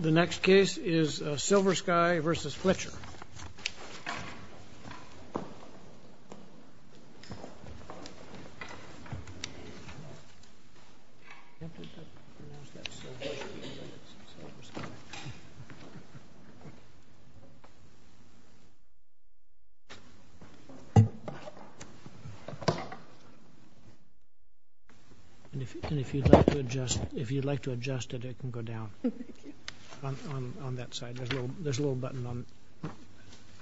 The next case is Silversky v. Fletcher If you'd like to adjust it, it can go down on that side. There's a little button on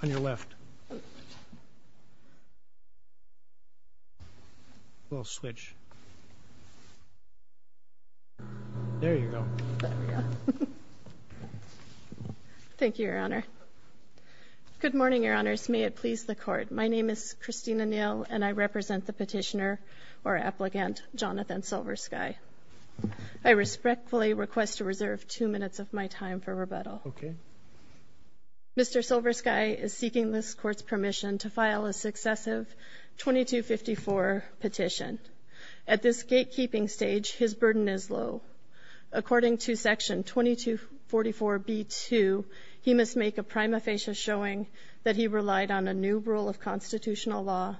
your left. We'll switch. There you go. Thank you, Your Honor. Good morning, Your Honors. May it please the Court. My name is Christina Neal, and I represent the petitioner, or applicant, Jonathan Silversky. I respectfully request to reserve two minutes of my time for rebuttal. Okay. Mr. Silversky is seeking this Court's permission to file a successive 2254 petition. At this gatekeeping stage, his burden is low. According to Section 2244b-2, he must make a prima facie showing that he relied on a new rule of constitutional law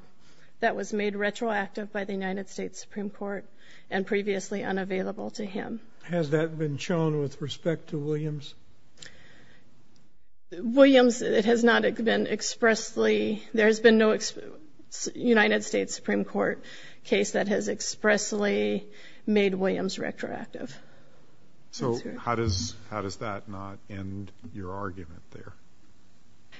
that was made retroactive by the United States Supreme Court and previously unavailable to him. Has that been shown with respect to Williams? Williams, it has not been expressly, there has been no United States Supreme Court case that has expressly made Williams retroactive. So how does that not end your argument there?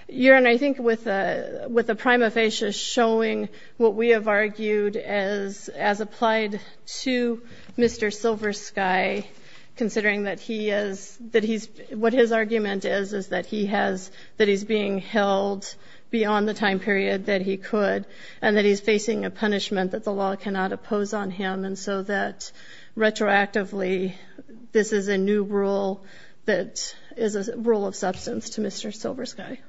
Your Honor, I think with a prima facie showing what we have argued as applied to Mr. Silversky, considering that he is, that he's, what his argument is, is that he has, that he's being held beyond the time period that he could, and that he's facing a punishment that the law cannot oppose on him, and so that retroactively, this is a new rule that is a rule of substance to Mr. Silversky.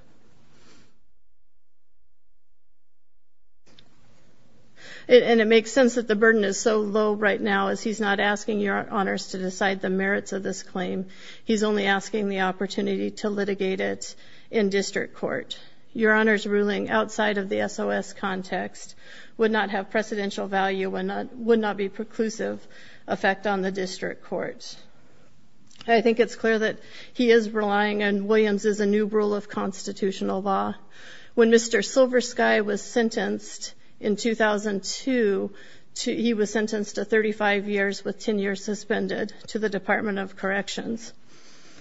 And it makes sense that the burden is so low right now as he's not asking your Honors to decide the merits of this claim. He's only asking the opportunity to litigate it in district court. Your Honors ruling outside of the SOS context would not have precedential value, would not be preclusive effect on the district court. I think it's clear that he is relying on Williams' new rule of constitutional law. When Mr. Silversky was sentenced in 2002, he was sentenced to 35 years with 10 years suspended to the Department of Corrections.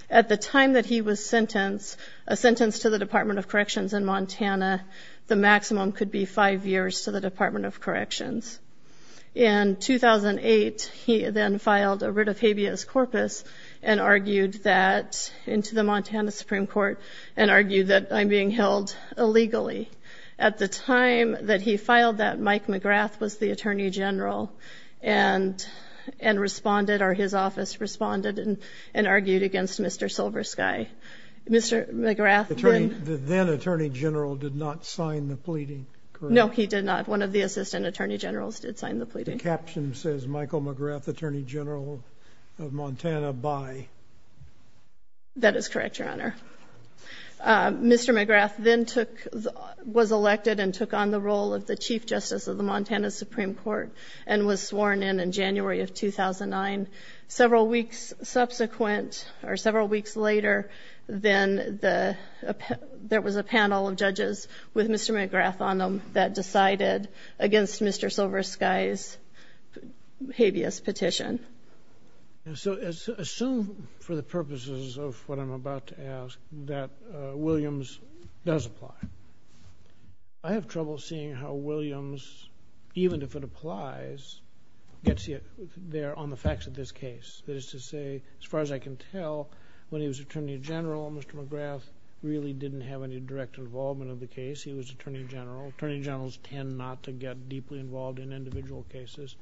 At the time that he was sentenced, a sentence to the Department of Corrections in Montana, the maximum could be five years to the Department of Corrections. In 2008, he then filed a writ of habeas corpus and argued that, into the Montana Supreme Court, and argued that I'm being held illegally. At the time that he filed that, Mike McGrath was the Attorney General and responded, or his office responded and argued against Mr. Silversky. Mr. McGrath then... The then Attorney General did not sign the pleading, correct? No, he did not. One of the assistant Attorney Generals did sign the pleading. The caption says, Michael McGrath, Attorney General of Montana by... That is correct, Your Honor. Mr. McGrath then was elected and took on the role of the Chief Justice of the Montana Supreme Court and was sworn in in January of 2009. Several weeks subsequent, or several weeks later, there was a panel of judges with Mr. McGrath on them that decided against Mr. Silversky's habeas petition. Assume, for the purposes of what I'm about to ask, that Williams does apply. I have trouble seeing how Williams, even if it applies, gets there on the facts of this case. That is to say, as far as I can tell, when he was Attorney General, Mr. McGrath really didn't have any direct involvement of the case. He was Attorney General. Attorney Generals tend not to get deeply involved in individual cases.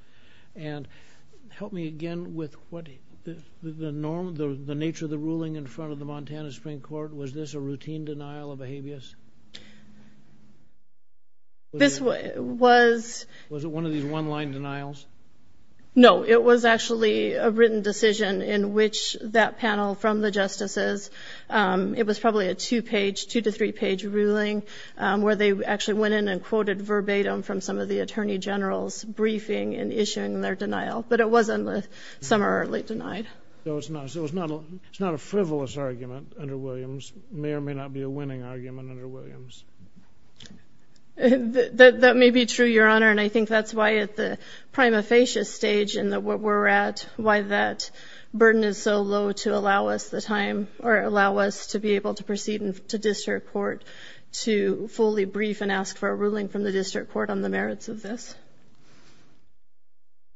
Help me again with the nature of the ruling in front of the Montana Supreme Court. Was this a routine denial of a habeas? This was... Was it one of these one-line denials? No, it was actually a written decision in which that panel from the justices... It was probably a two-page, two-to-three-page ruling where they actually went in and quoted verbatim from some of the Attorney Generals' briefing and issuing their denial. But it wasn't summarily denied. So it's not a frivolous argument under Williams. It may or may not be a winning argument under Williams. That may be true, Your Honor, and I think that's why at the prima facie stage in what we're at, why that burden is so low to allow us the time or allow us to be able to proceed to district court to fully brief and ask for a ruling from the district court on the merits of this.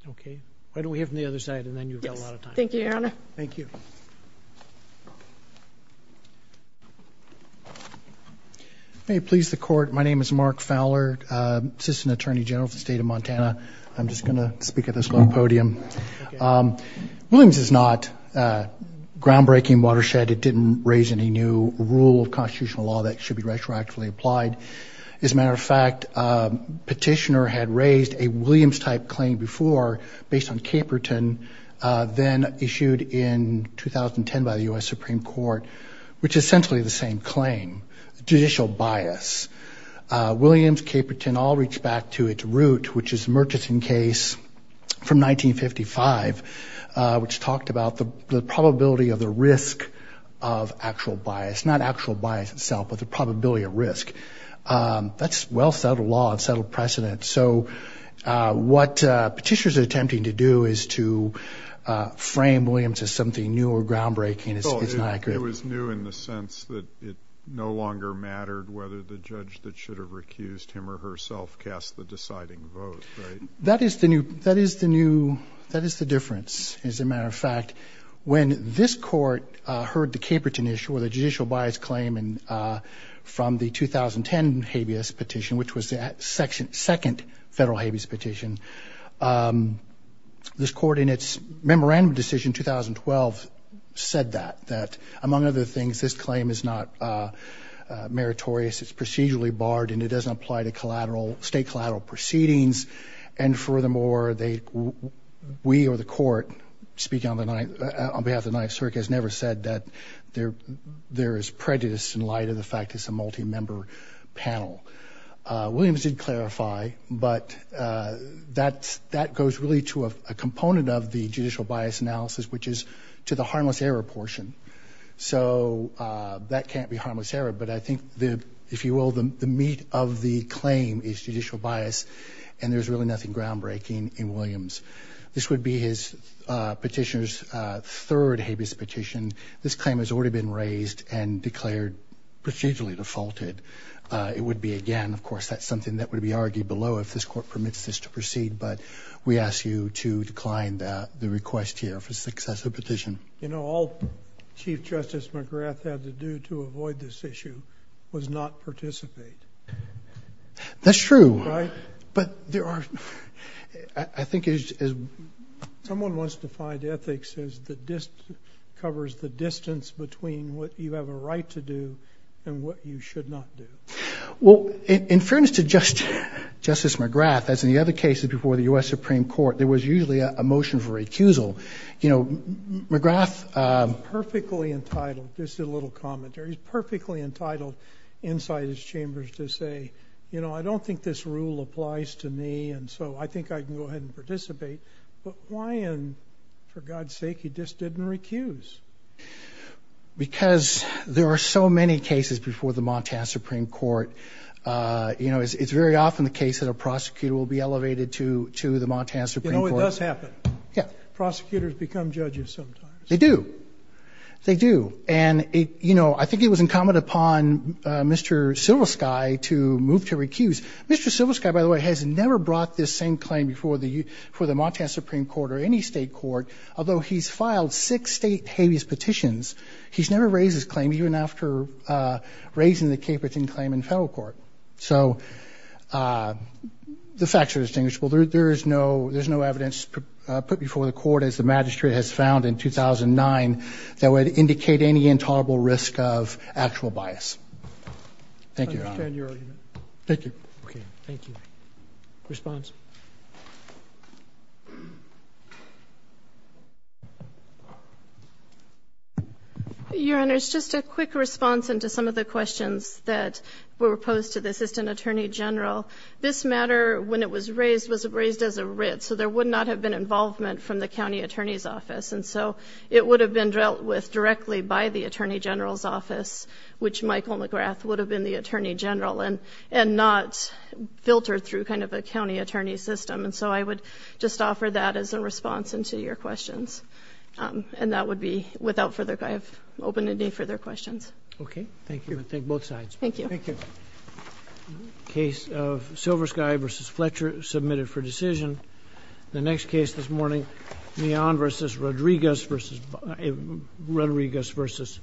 Okay. Why don't we hear from the other side, and then you've got a lot of time. Yes. Thank you, Your Honor. Thank you. May it please the Court, my name is Mark Fowler, Assistant Attorney General for the State of Montana. I'm just going to speak at this low podium. Williams is not groundbreaking watershed. It didn't raise any new rule of constitutional law that should be retroactively applied. As a matter of fact, Petitioner had raised a Williams-type claim before based on Caperton, then issued in 2010 by the U.S. Supreme Court, which is essentially the same claim, judicial bias. Williams, Caperton all reached back to its root, which is the Murchison case from 1955, which talked about the probability of the risk of actual bias. Not actual bias itself, but the probability of risk. That's well-settled law and settled precedent. So what Petitioner is attempting to do is to frame Williams as something new or groundbreaking. It was new in the sense that it no longer mattered whether the judge that should have recused him or herself cast the deciding vote, right? That is the difference. As a matter of fact, when this Court heard the Caperton issue, or the judicial bias claim, from the 2010 habeas petition, which was the second federal habeas petition, this Court, in its memorandum decision in 2012, said that. That, among other things, this claim is not meritorious, it's procedurally barred, and it doesn't apply to state collateral proceedings. And furthermore, we or the Court, speaking on behalf of the Ninth Circuit, has never said that there is prejudice in light of the fact it's a multi-member panel. Williams did clarify, but that goes really to a component of the judicial bias analysis, which is to the harmless error portion. So that can't be harmless error, but I think, if you will, the meat of the claim is judicial bias, and there's really nothing groundbreaking in Williams. This would be Petitioner's third habeas petition. This claim has already been raised and declared procedurally defaulted. It would be, again, of course, that's something that would be argued below, if this Court permits this to proceed. But we ask you to decline the request here for success of the petition. You know, all Chief Justice McGrath had to do to avoid this issue was not participate. That's true. Right? But there are – I think it is – someone wants to find ethics that covers the distance between what you have a right to do and what you should not do. Well, in fairness to Justice McGrath, as in the other cases before the U.S. Supreme Court, there was usually a motion for recusal. You know, McGrath – He's perfectly entitled – this is a little commentary – he's perfectly entitled inside his chambers to say, you know, I don't think this rule applies to me, and so I think I can go ahead and participate. But why in – for God's sake, he just didn't recuse? Because there are so many cases before the Montana Supreme Court. You know, it's very often the case that a prosecutor will be elevated to the Montana Supreme Court. You know, it does happen. Yeah. Prosecutors become judges sometimes. They do. They do. And, you know, I think it was incumbent upon Mr. Silversky to move to recuse. Mr. Silversky, by the way, has never brought this same claim before the – for the Montana Supreme Court or any State court. Although he's filed six State habeas petitions, he's never raised this claim even after raising the Caperton claim in federal court. So the facts are distinguishable. There is no – there's no evidence put before the Court, as the magistrate has found in 2009, that would indicate any intolerable risk of actual bias. Thank you, Your Honor. I understand your argument. Thank you. Okay. Thank you. Response? Your Honor, it's just a quick response into some of the questions that were posed to the Assistant Attorney General. This matter, when it was raised, was raised as a writ. So there would not have been involvement from the county attorney's office. And so it would have been dealt with directly by the attorney general's office, which Michael McGrath would have been the attorney general. And not filtered through kind of a county attorney system. And so I would just offer that as a response into your questions. And that would be – without further – I have open to any further questions. Okay. Thank you. I thank both sides. Thank you. Thank you. Case of Silver Sky v. Fletcher submitted for decision. The next case this morning, Mion v. Rodriguez v. Barr.